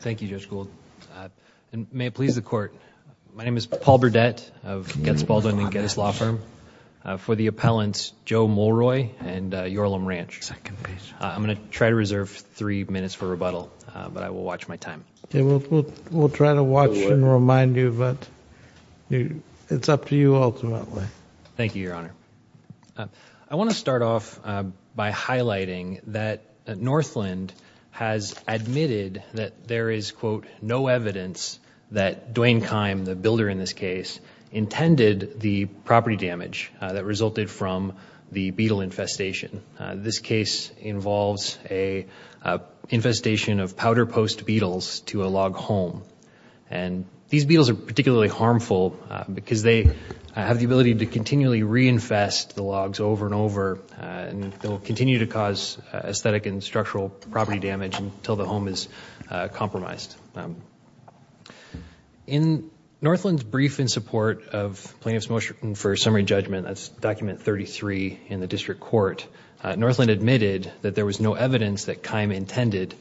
Thank you, Judge Gould. May it please the Court, my name is Paul Burdette of Getz Baldwin and Getz Law Firm for the appellants Joe Mulroy and Yorlam Ranch. I'm gonna try to reserve three minutes for rebuttal but I will watch my time. We'll try to watch and remind you but it's up to you ultimately. Thank you, Your Honor, there is quote no evidence that Duane Kime, the builder in this case, intended the property damage that resulted from the beetle infestation. This case involves a infestation of powder post beetles to a log home and these beetles are particularly harmful because they have the ability to continually reinfest the logs over and over and they'll continue to cause aesthetic and structural property damage until the home is compromised. In Northland's brief in support of plaintiff's motion for summary judgment, that's document 33 in the district court, Northland admitted that there was no evidence that Kime intended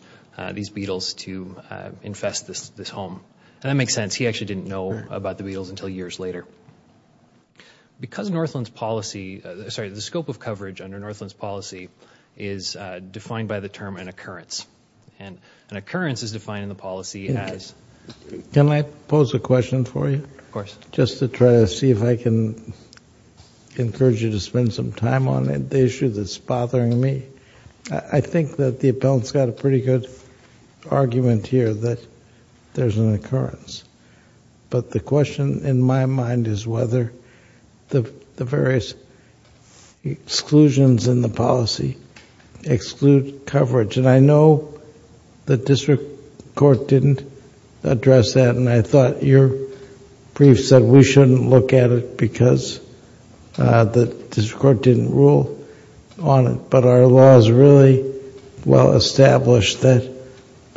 these beetles to infest this home and that makes sense. He actually didn't know about the beetles until years later. Because Northland's policy, sorry, the scope of coverage under Northland's policy is defined by the term an occurrence and an occurrence is defined in the policy as... Can I pose a question for you? Of course. Just to try to see if I can encourage you to spend some time on it, the issue that's bothering me. I think that the appellant's got a pretty good argument here that there's an occurrence but the exclude coverage and I know the district court didn't address that and I thought your brief said we shouldn't look at it because the district court didn't rule on it but our law is really well established that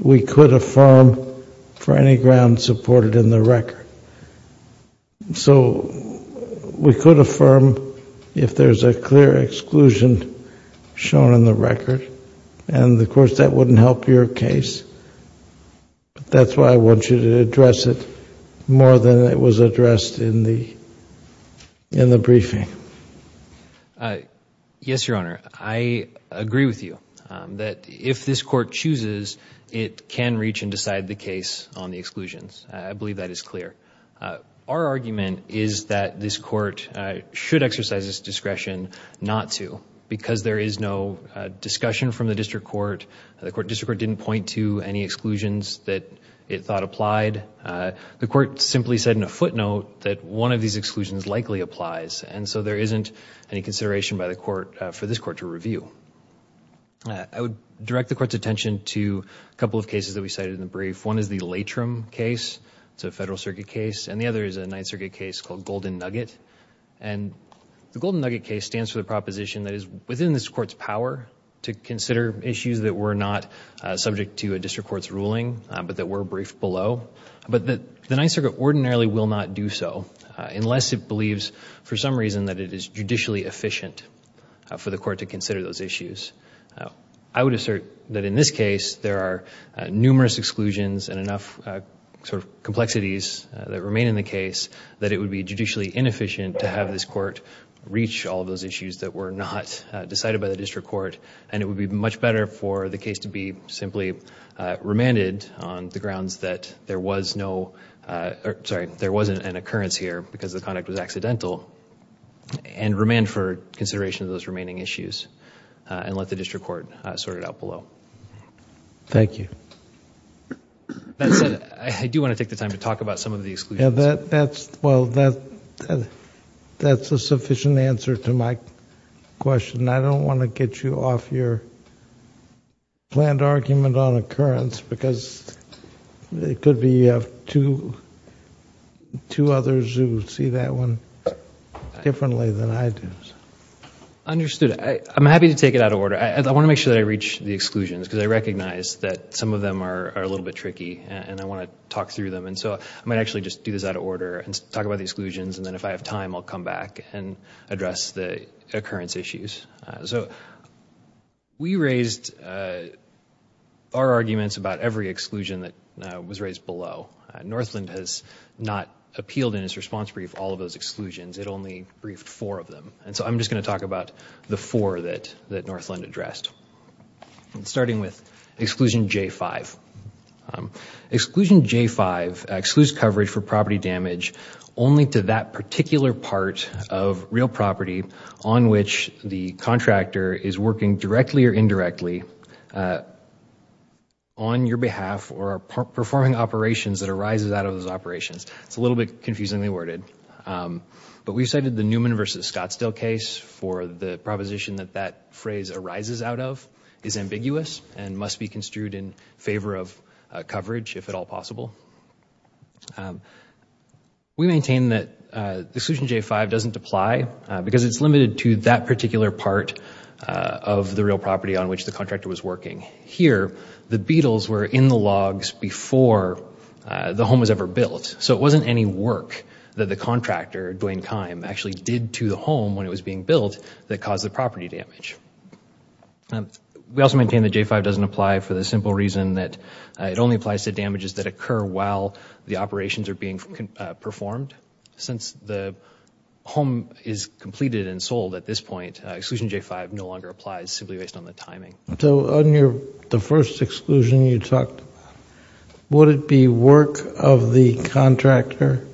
we could affirm for any ground supported in the record. So we could affirm if there's a clear exclusion shown in the record and of course that wouldn't help your case but that's why I want you to address it more than it was addressed in the in the briefing. Yes, Your Honor. I agree with you that if this court chooses it can reach and decide the case on the exclusions. I believe that is clear. Our argument is that this court should exercise this discretion not to because there is no discussion from the district court. The district court didn't point to any exclusions that it thought applied. The court simply said in a footnote that one of these exclusions likely applies and so there isn't any consideration by the court for this court to review. I would direct the court's attention to a couple of cases that we cited in the brief. One is the Latrim case. It's a Federal Ninth Circuit case called Golden Nugget and the Golden Nugget case stands for the proposition that is within this court's power to consider issues that were not subject to a district court's ruling but that were briefed below but that the Ninth Circuit ordinarily will not do so unless it believes for some reason that it is judicially efficient for the court to consider those issues. I would assert that in this case there are numerous exclusions and enough sort of that it would be judicially inefficient to have this court reach all those issues that were not decided by the district court and it would be much better for the case to be simply remanded on the grounds that there was no, sorry, there wasn't an occurrence here because the conduct was accidental and remand for consideration of those remaining issues and let the district court sort it out below. Thank you. I do want to take the time to talk about some of the exclusions. That's, well, that's a sufficient answer to my question. I don't want to get you off your planned argument on occurrence because it could be you have two others who see that one differently than I do. Understood. I'm happy to take it out of order. I want to make sure that I reach the exclusions because I recognize that some of them are a little bit tricky and I want to just do this out of order and talk about the exclusions and then if I have time I'll come back and address the occurrence issues. So we raised our arguments about every exclusion that was raised below. Northland has not appealed in its response brief all of those exclusions. It only briefed four of them and so I'm just going to talk about the four that Northland addressed. Starting with exclusion J5. Exclusion J5 excludes coverage for property damage only to that particular part of real property on which the contractor is working directly or indirectly on your behalf or performing operations that arises out of those operations. It's a little bit confusingly worded but we cited the Newman versus Scottsdale case for the proposition that that phrase arises out of is ambiguous and must be construed in favor of coverage if at all possible. We maintain that the exclusion J5 doesn't apply because it's limited to that particular part of the real property on which the contractor was working. Here the beetles were in the logs before the home was ever built so it wasn't any work that the contractor, Duane Kime, actually did to the home when it caused the property damage. We also maintain that J5 doesn't apply for the simple reason that it only applies to damages that occur while the operations are being performed. Since the home is completed and sold at this point exclusion J5 no longer applies simply based on the timing. So on the first exclusion you talked about, would it be work of the contractor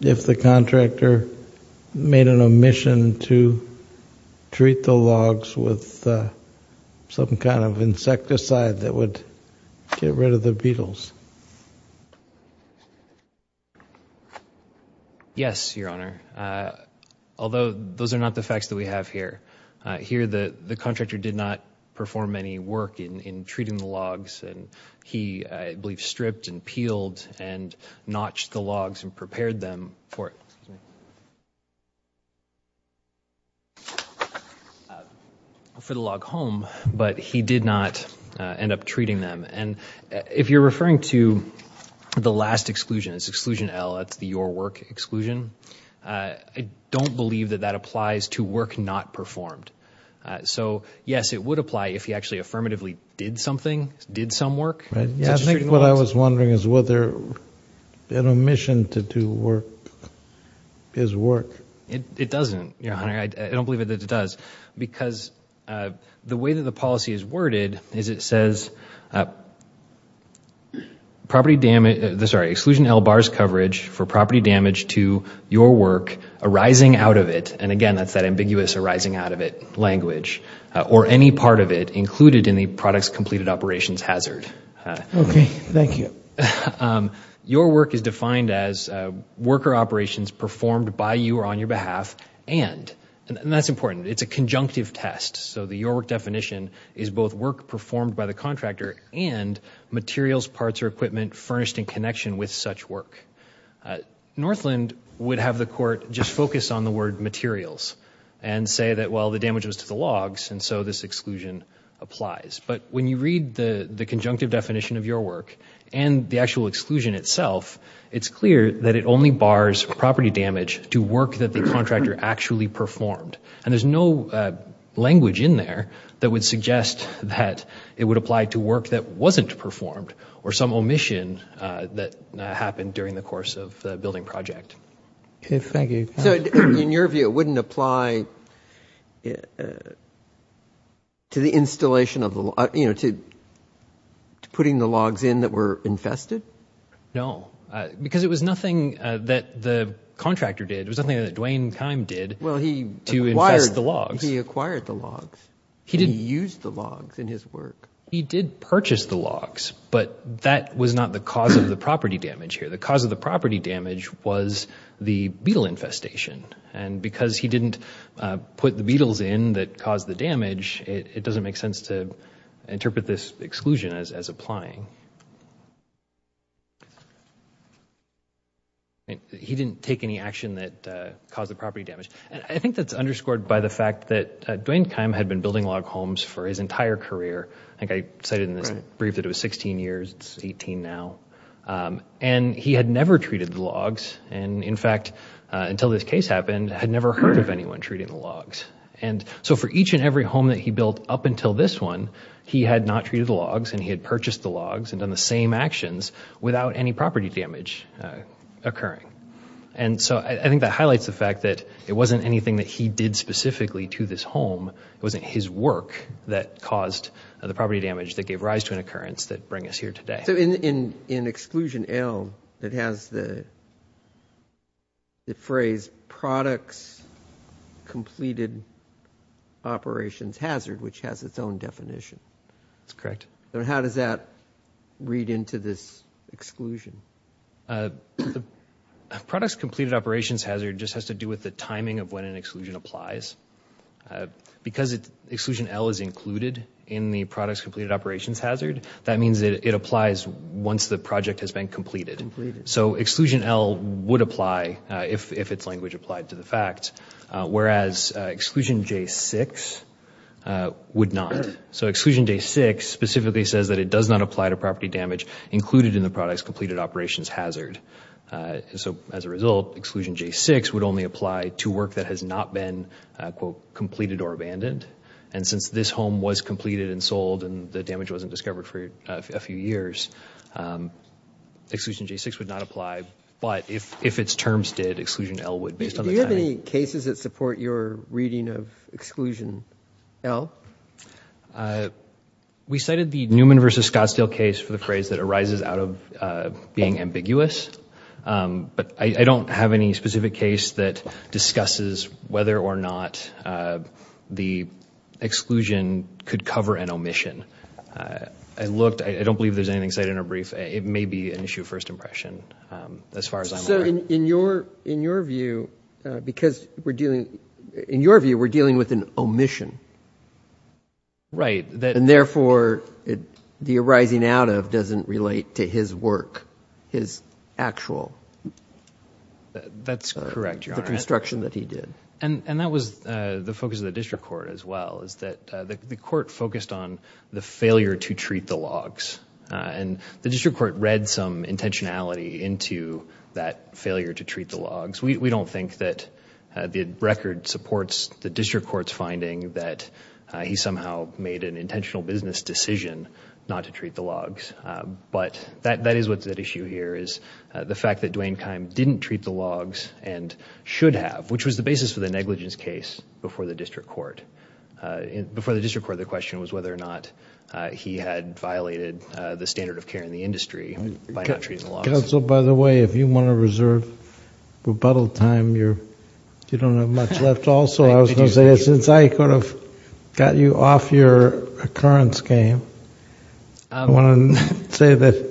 if the contractor made an admission to treat the logs with some kind of insecticide that would get rid of the beetles? Yes, your honor. Although those are not the facts that we have here. Here the the contractor did not perform any work in treating the logs and he, I believe, stripped and peeled and notched the logs and prepared them for the log home but he did not end up treating them and if you're referring to the last exclusion, it's exclusion L, that's the your work exclusion, I don't believe that that applies to work not performed. So yes, it would apply if he actually affirmatively did something, did some work. I think what I was wondering is whether an omission to do work is work. It doesn't, your honor. I don't believe that it does because the way that the policy is worded is it says property damage, sorry, exclusion L bars coverage for property damage to your work arising out of it and again that's that ambiguous arising out of it language or any part of it included in the products completed operations hazard. Okay, thank you. Your work is defined as worker operations performed by you or on your behalf and, and that's important, it's a conjunctive test so the your work definition is both work performed by the contractor and materials, parts, or equipment furnished in connection with such work. Northland would have the court just focus on the word materials and say that well the damage was to the logs and so this exclusion applies but when you read the the conjunctive definition of your work and the actual exclusion itself it's clear that it only bars property damage to work that the contractor actually performed and there's no language in there that would suggest that it would apply to work that wasn't performed or some omission that happened during the course of the building project. Thank you. So in your view it wouldn't apply to the installation of the, you know, to putting the logs in that were infested? No, because it was nothing that the contractor did, it was something that Dwayne Kime did. Well he acquired the logs. He acquired the logs. He didn't use the logs in his work. He did purchase the logs but that was not the cause of the property damage here. The cause of the property damage was the beetle infestation and because he didn't put the beetles in that caused the damage it doesn't make sense to interpret this exclusion as applying. He didn't take any action that caused the property damage. I think that's underscored by the fact that Dwayne Kime had been building log homes for his entire career. I think I cited in this brief that it was 16 years, it's 18 now, and he had never treated the logs and in fact until this case happened had never heard of anyone treating the logs. And so for each and every home that he built up until this one he had not treated the logs and he had purchased the logs and done the same actions without any property damage occurring. And so I think that highlights the fact that it wasn't anything that he did specifically to this home. It wasn't his work that caused the property damage that gave rise to an occurrence that bring us here today. So in exclusion L it has the phrase products completed operations hazard which has its own definition. That's correct. So how does that read into this exclusion? The products completed operations hazard just has to do with the timing of when an exclusion applies. Because exclusion L is included in the products completed operations hazard, that means that it applies once the project has been completed. So exclusion L would apply if its language applied to the fact, whereas exclusion J6 would not. So exclusion J6 specifically says that it does not apply to property damage included in the products completed operations hazard. So as a result exclusion J6 would only apply to work that has not been, quote, completed or abandoned. And since this home was the damage wasn't discovered for a few years, exclusion J6 would not apply. But if its terms did, exclusion L would, based on the timing. Do you have any cases that support your reading of exclusion L? We cited the Newman versus Scottsdale case for the phrase that arises out of being ambiguous. But I don't have any specific case that discusses whether or not the exclusion could cover an omission. I looked. I don't believe there's anything cited in our brief. It may be an issue of first impression as far as I'm aware. So in your view, because we're dealing, in your view, we're dealing with an omission. Right. And therefore the arising out of doesn't relate to his work, his actual. That's correct. The construction that he did. And that was the focus of the district court as well, is that the court focused on the failure to treat the logs. And the district court read some intentionality into that failure to treat the logs. We don't think that the record supports the district court's finding that he somehow made an intentional business decision not to treat the logs. But that is what that issue here is. The fact that Duane Kime didn't treat the logs and should have, which was the basis for the negligence case before the district court. Before the district court, the question was whether or not he had violated the standard of care in the industry by not treating the logs. Counsel, by the way, if you want to reserve rebuttal time, you don't have much left also. I was going to say that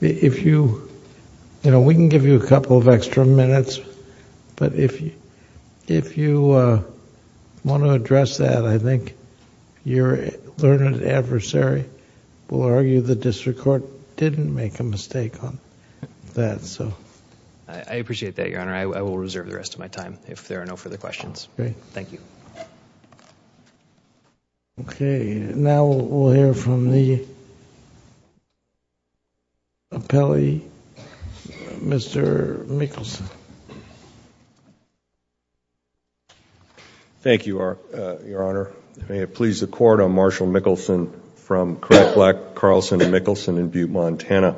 if you... you know, we can give you a couple of extra minutes, but if you want to address that, I think your learned adversary will argue the district court didn't make a mistake on that. I appreciate that, Your Honor. I will reserve the rest of my time if there are no further questions. Thank you. Okay. Now we will hear from the appellee, Mr. Mickelson. Thank you, Your Honor. May it please the Court, I am Marshall Mickelson from Craig Black Carlson and Mickelson in Butte, Montana.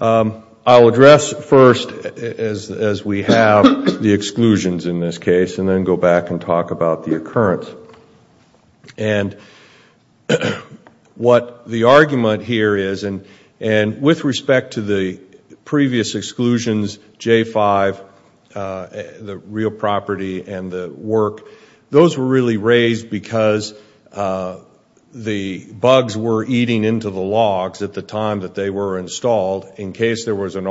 I will address first as we have the exclusions in this case and then go back and talk about the occurrence. What the argument here is, and with respect to the previous exclusions, J-5, the real property and the work, those were really raised because the bugs were eating into the logs at the time that they were installed in case there was an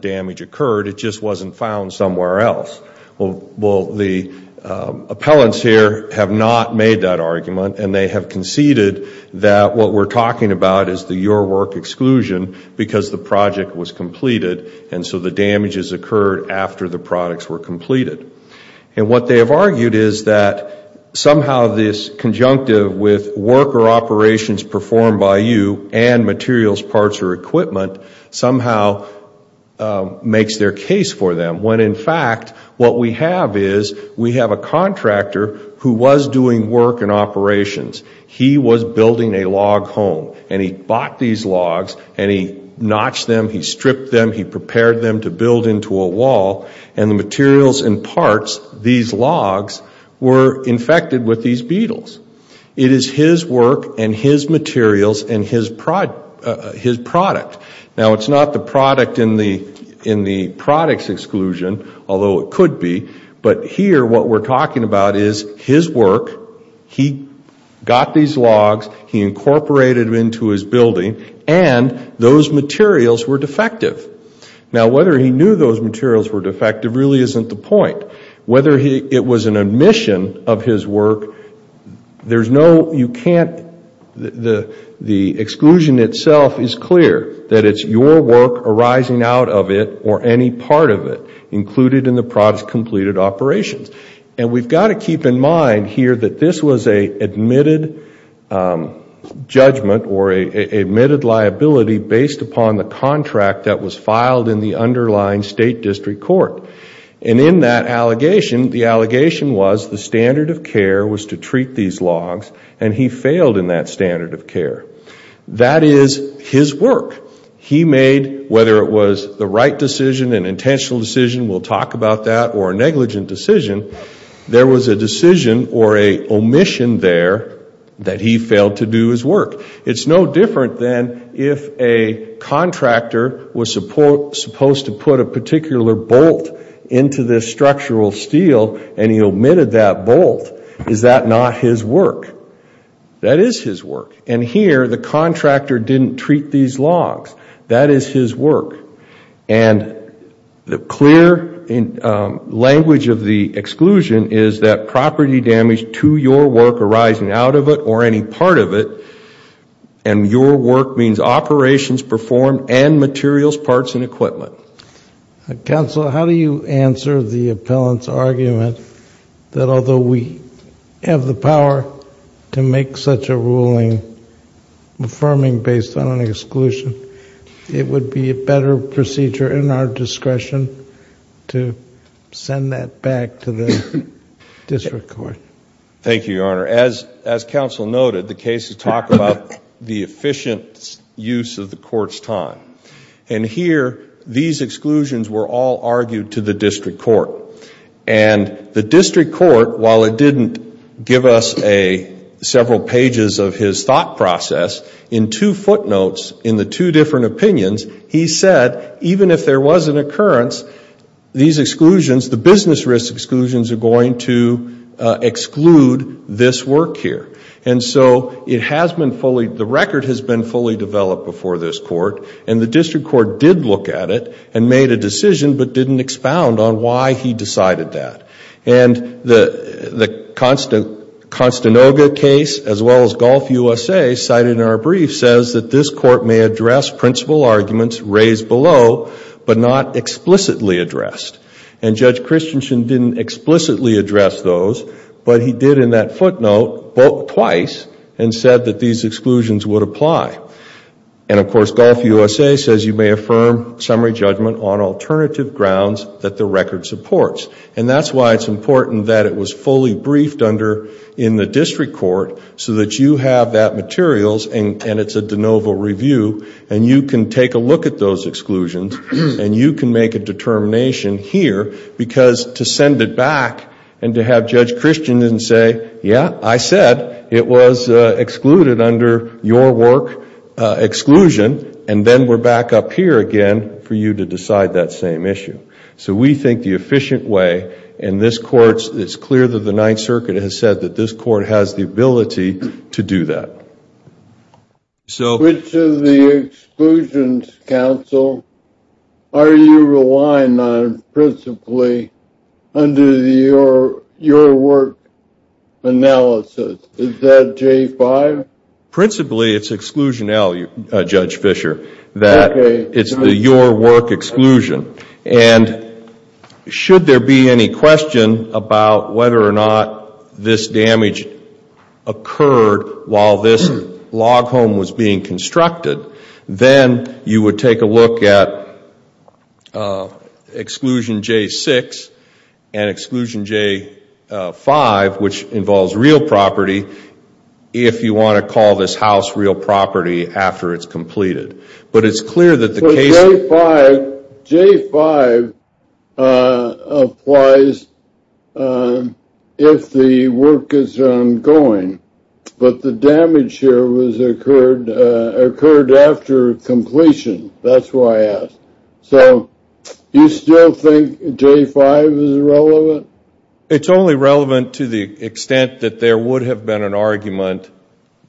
damage occurred. It just wasn't found somewhere else. Well, the appellants here have not made that argument and they have conceded that what we are talking about is the your work exclusion because the project was completed and so the damages occurred after the products were completed. And what they have argued is that somehow this conjunctive with worker operations performed by you and makes their case for them when in fact what we have is we have a contractor who was doing work and operations. He was building a log home and he bought these logs and he notched them, he stripped them, he prepared them to build into a wall and the materials and parts, these logs, were infected with these beetles. It is his work and his materials and his product. Now it is not the product in the product's exclusion, although it could be, but here what we are talking about is his work, he got these logs, he incorporated them into his building and those materials were defective. Now whether he knew those materials were defective really isn't the point. Whether it was an admission of his work, there is no, you can't, the exclusion itself is clear that it is your work arising out of it or any part of it included in the product's completed operations. And we have to keep in mind here that this was an admitted judgment or an admitted liability based upon the contract that was filed in the underlying State District Court. And in that allegation, the allegation was the standard of care was to treat these logs and he failed in that standard of care. That is his work. He made whether it was the right decision, an intentional decision, we will talk about that, or a negligent decision, there was a decision or an omission there that he failed to do his work. It is no different than if a contractor was supposed to put a particular bolt into the structural steel and he omitted that bolt. Is that not his work? That is his work. And here the contractor didn't treat these logs. That is his work. And the clear language of the exclusion is that property damage to your work arising out of it or any part of it and your work means operations performed and materials, parts and equipment. Counsel, how do you answer the appellant's argument that although we have the procedure in our discretion to send that back to the District Court? Thank you, Your Honor. As counsel noted, the case is talking about the efficient use of the court's time. And here, these exclusions were all argued to the District Court. And the District Court, while it didn't give us several pages of his thought process, in two footnotes in the two different opinions, he said even if there was an occurrence, these exclusions, the business risk exclusions are going to exclude this work here. And so it has been fully, the record has been fully developed before this court. And the District Court did look at it and made a decision but didn't expound on why he decided that. And the Constanoga case as well as Gulf USA cited in our brief says that this court may address principle arguments raised below but not explicitly addressed. And Judge Christensen didn't explicitly address those but he did in that footnote twice and said that these exclusions would apply. And of course, Gulf USA says you may affirm summary judgment on why it's important that it was fully briefed under in the District Court so that you have that materials and it's a de novo review and you can take a look at those exclusions and you can make a determination here because to send it back and to have Judge Christensen say, yeah, I said it was excluded under your work exclusion and then we're back up here again for you to decide that same issue. So we think the efficient way in this court, it's clear that the Ninth Circuit has said that this court has the ability to do that. Which of the exclusions, counsel, are you relying on principally under your work analysis? Is that J5? Principally it's exclusion L, Judge Fischer, that it's the your work exclusion. And should there be any question about whether or not this damage occurred while this log home was being constructed, then you would take a look at exclusion J6 and exclusion J5, which involves real property, if you want to call this house real property after it's completed. But it's clear that the case... But J5 applies if the work is ongoing. But the damage here occurred after completion. That's why I asked. So you still think J5 is relevant? It's only relevant to the extent that there would have been an argument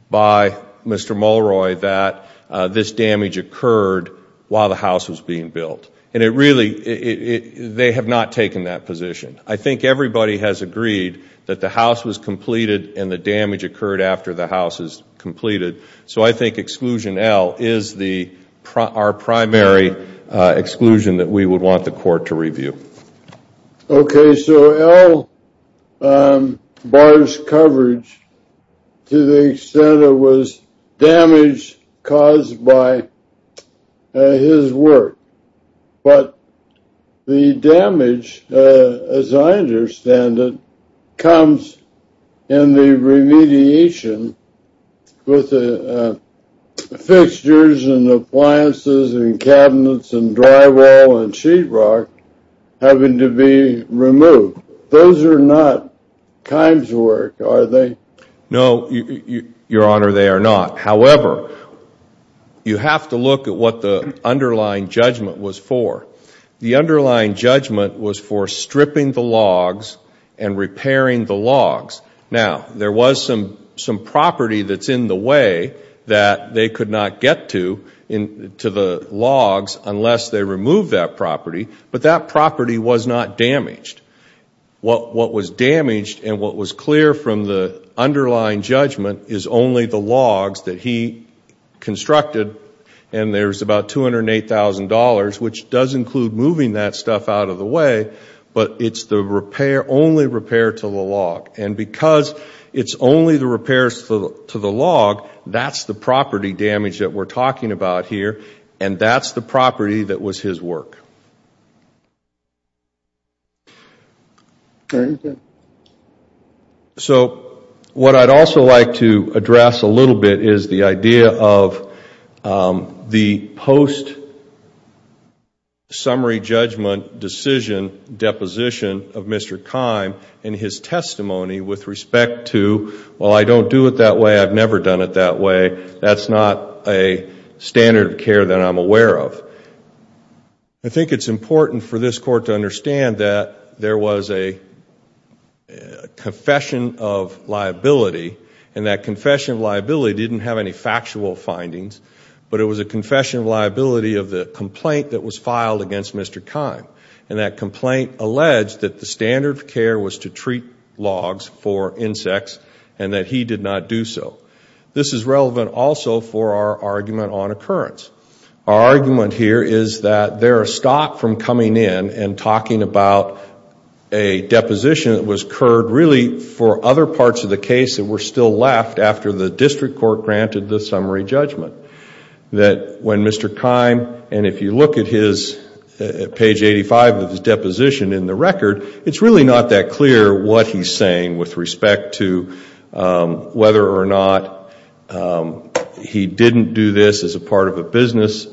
by Mr. Mulroy that this damage occurred while the house was being built. And it really, they have not taken that position. I think everybody has agreed that the house was completed and the damage occurred after the house is completed. So I think exclusion L is our primary exclusion that we would want the court to review. Okay. So L bars coverage to the extent it was damage caused by his work. But the damage, as I understand it, comes in the remediation with the fixtures and appliances and cabinets and drywall and sheetrock having to be removed. Those are not Kimes' work, are they? No, Your Honor, they are not. However, you have to look at what the underlying judgment was for. The underlying judgment was for stripping the logs and repairing the logs. Now, there was some property that's in the way that they could not get to, to the logs, unless they remove that property. But that property was not damaged. What was damaged and what was clear from the underlying judgment is only the logs that he constructed. And there's about $208,000, which does include moving that stuff out of the way. But it's the repair, only repair to the log. And because it's only the repairs to the log, that's the property damage that we're talking about here. And that's the property that was his work. So what I'd also like to address a little bit is the idea of the post-summary judgment decision deposition of Mr. Kime and his testimony with respect to, well, I don't do it that way. That's not a standard of care that I'm aware of. I think it's important for this Court to understand that there was a confession of liability. And that confession of liability didn't have any factual findings. But it was a confession of liability of the complaint that was filed against Mr. Kime. And that complaint alleged that the standard of care was to treat logs for insects and that he did not do so. This is relevant also for our argument on occurrence. Our argument here is that there are stopped from coming in and talking about a deposition that was occurred really for other parts of the case that were still left after the district court granted the summary judgment. That when Mr. Kime, and if you look at his page 85 of his deposition in the record, it's really not that clear what he's saying with respect to whether or not he didn't do this as a part of a business,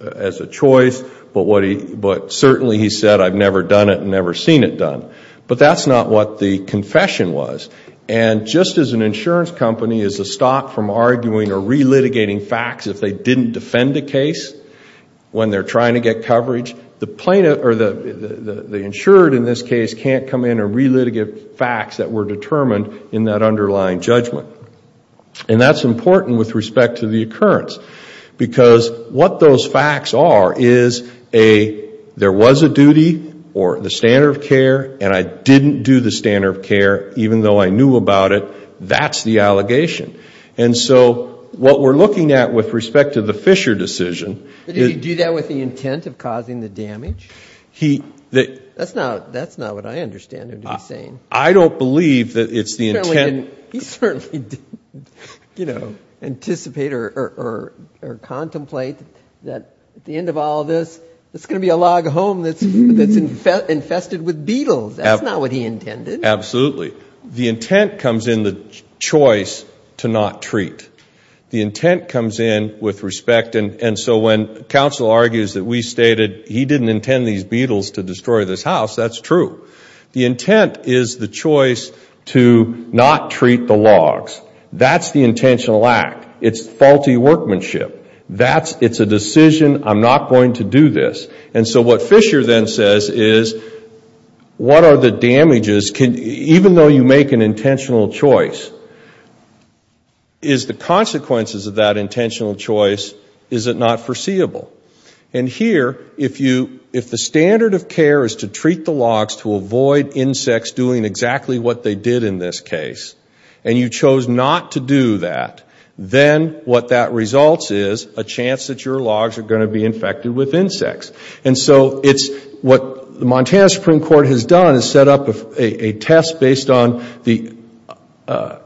as a choice, but certainly he said, I've never done it and never seen it done. But that's not what the confession was. And just as an insurance company is stopped from arguing or relitigating facts if they didn't defend a case when they're trying to get coverage, the insured in this case can't come in and relitigate facts that were determined in that underlying judgment. And that's important with respect to the occurrence. Because what those facts are is there was a duty or the standard of care and I didn't do the standard of care even though I knew about it. That's the allegation. And so what we're looking at with respect to the Fisher decision Did he do that with the intent of causing the damage? That's not what I understand him to be saying. I don't believe that it's the intent. He certainly didn't anticipate or contemplate that at the end of all this, there's going to be a log home that's infested with beetles. That's not what he intended. Absolutely. The intent comes in the choice to not treat. The intent comes in with respect and so when counsel argues that we stated he didn't intend these beetles to destroy this house, that's true. The intent is the choice to not treat the logs. That's the intentional act. It's faulty workmanship. It's a decision, I'm not going to do this. And so what Fisher then says is what are the damages, even though you make an intentional choice, is the consequences of that intentional choice, is it not foreseeable? And here, if the standard of care is to treat the logs to avoid insects doing exactly what they did in this case, and you chose not to do that, then what that results is a chance that your logs are going to be infected with insects. And so it's what the Montana Supreme Court has done is set up a test based on the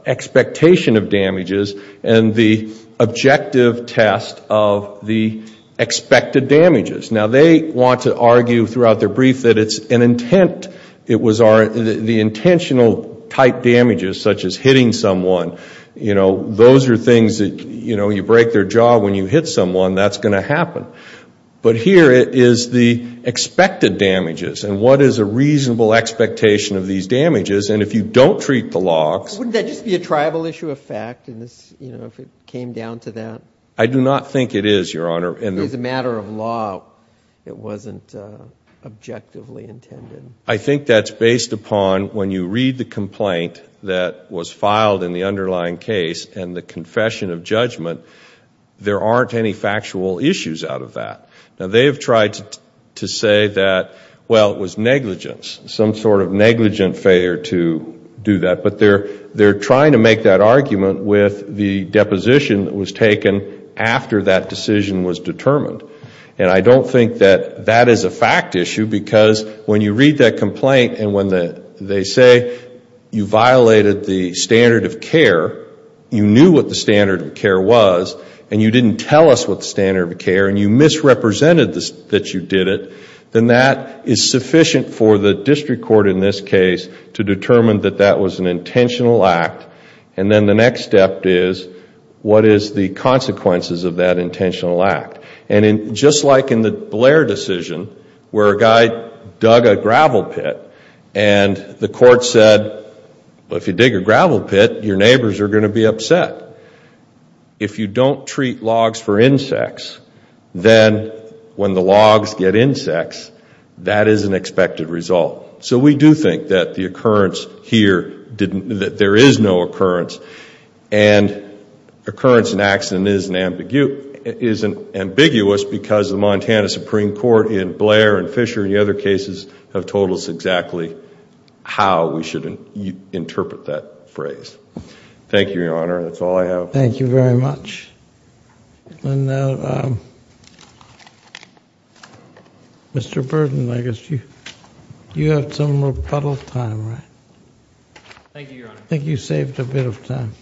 expectation of damages and the objective test of the expected damages. Now they want to argue throughout their brief that it's an intent. It was the intentional type damages such as hitting someone. Those are things that you break their jaw when you hit someone, that's going to happen. But here it is the expected damages and what is a reasonable expectation of these damages and if you don't treat the logs. Wouldn't that just be a tribal issue of fact if it came down to that? I do not think it is, Your Honor. If it's a matter of law, it wasn't objectively intended. I think that's based upon when you read the complaint that was filed in the underlying case and the confession of judgment, there aren't any factual issues out of that. Now they have tried to say that, well, it was negligence, some sort of negligent failure to do that, but they're trying to make that argument with the deposition that was taken after that decision was determined. And I don't think that that is a fact issue because when you read that complaint and when they say you violated the standard of care, you knew what the standard of care was and you didn't tell us what the standard of care and you misrepresented that you did it, then that is sufficient for the district court in this case to determine that that was an intentional act and then the next step is what is the consequences of that intentional act. And just like in the Blair decision where a guy dug a gravel pit and the court said, well, if you dig a gravel pit, your neighbors are going to be upset, if you don't treat logs for insects, then when the logs get insects, that is an expected result. So we do think that the occurrence here, that there is no occurrence and occurrence and ambiguous because the Montana Supreme Court in Blair and Fisher and the other cases have told us exactly how we should interpret that phrase. Thank you, Your Honor. That's all I have. Thank you very much. Mr. Burden, I guess you have some rebuttal time, right? Thank you, Your Honor. I think you saved a bit of time.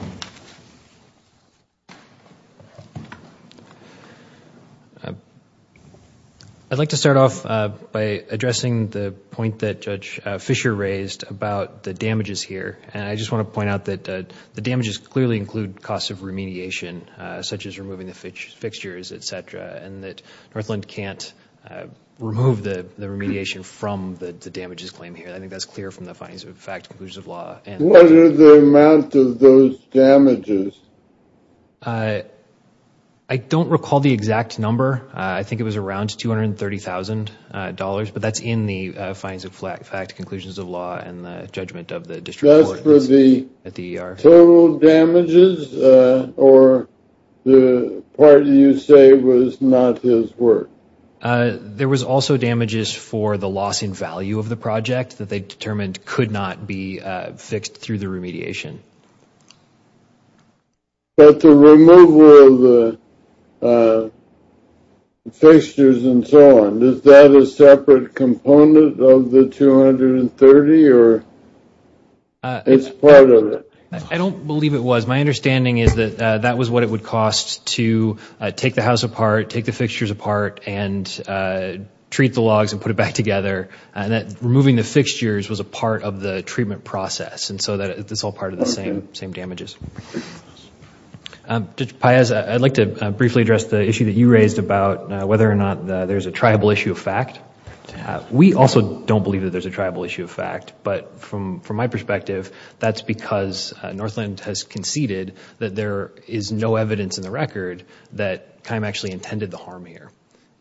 I'd like to start off by addressing the point that Judge Fisher raised about the damages here and I just want to point out that the damages clearly include costs of remediation such as removing the fixtures, et cetera, and that Northland can't remove the remediation from the damages claim here. I think that's clear from the findings of the fact and conclusions of law. What are the amount of those damages? I don't recall the exact number. I think it was around $230,000, but that's in the findings of fact, conclusions of law and the judgment of the district court at the ER. Just for the total damages or the part you say was not his work? There was also damages for the loss in value of the project that they determined could not be fixed through the remediation. But the removal of the fixtures and so on, is that a separate component of the $230,000 or it's part of it? I don't believe it was. My understanding is that that was what it would cost to take the house apart, take the fixtures apart, and treat the logs and put it back together and that removing the fixtures was a part of the treatment process. So it's all part of the same damages. Judge Payaz, I'd like to briefly address the issue that you raised about whether or not there's a triable issue of fact. We also don't believe that there's a triable issue of fact, but from my perspective, that's because Northland has conceded that there is no evidence in the record that Kime actually intended the harm here.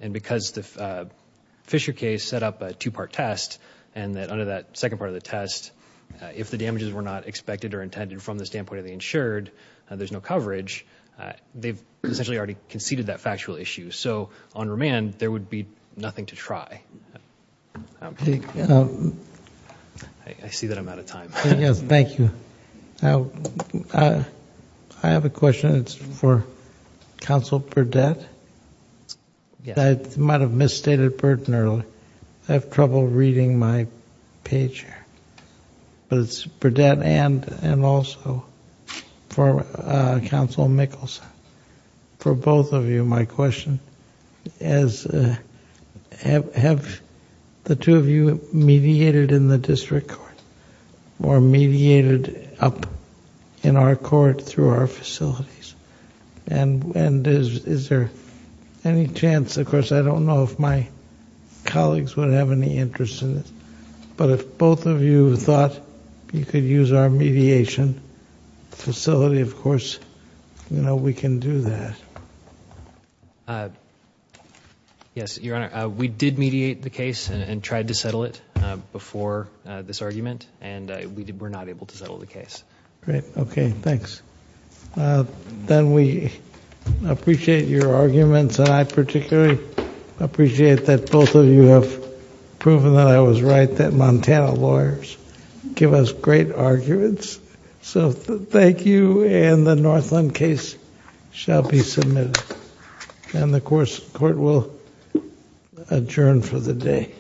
And because the Fisher case set up a two-part test, and that under that second part of the test, if the damages were not expected or intended from the standpoint of the insured, there's no coverage, they've essentially already conceded that factual issue. So on remand, there would be nothing to try. I see that I'm out of time. Thank you. I have a question. It's for Counsel Burdette. I might have misstated Burton earlier. I have trouble reading my page here, but it's Burdette and also for Counsel Mickelson. For both of you, my question is, have the two of you mediated in the district court or mediated up in our court through our facilities? And is there any chance, of course, I don't know if my colleagues would have any interest in this, but if both of you thought you could use our mediation facility, of course, we can do that. Yes, Your Honor. We did mediate the case and tried to settle it before this argument, and we were not able to settle the case. Great. Okay. Thanks. Then, we appreciate your arguments, and I particularly appreciate that both of you have proven that I was right, that Montana lawyers give us great arguments, so thank you, and the Northland case shall be submitted, and the court will adjourn for the day.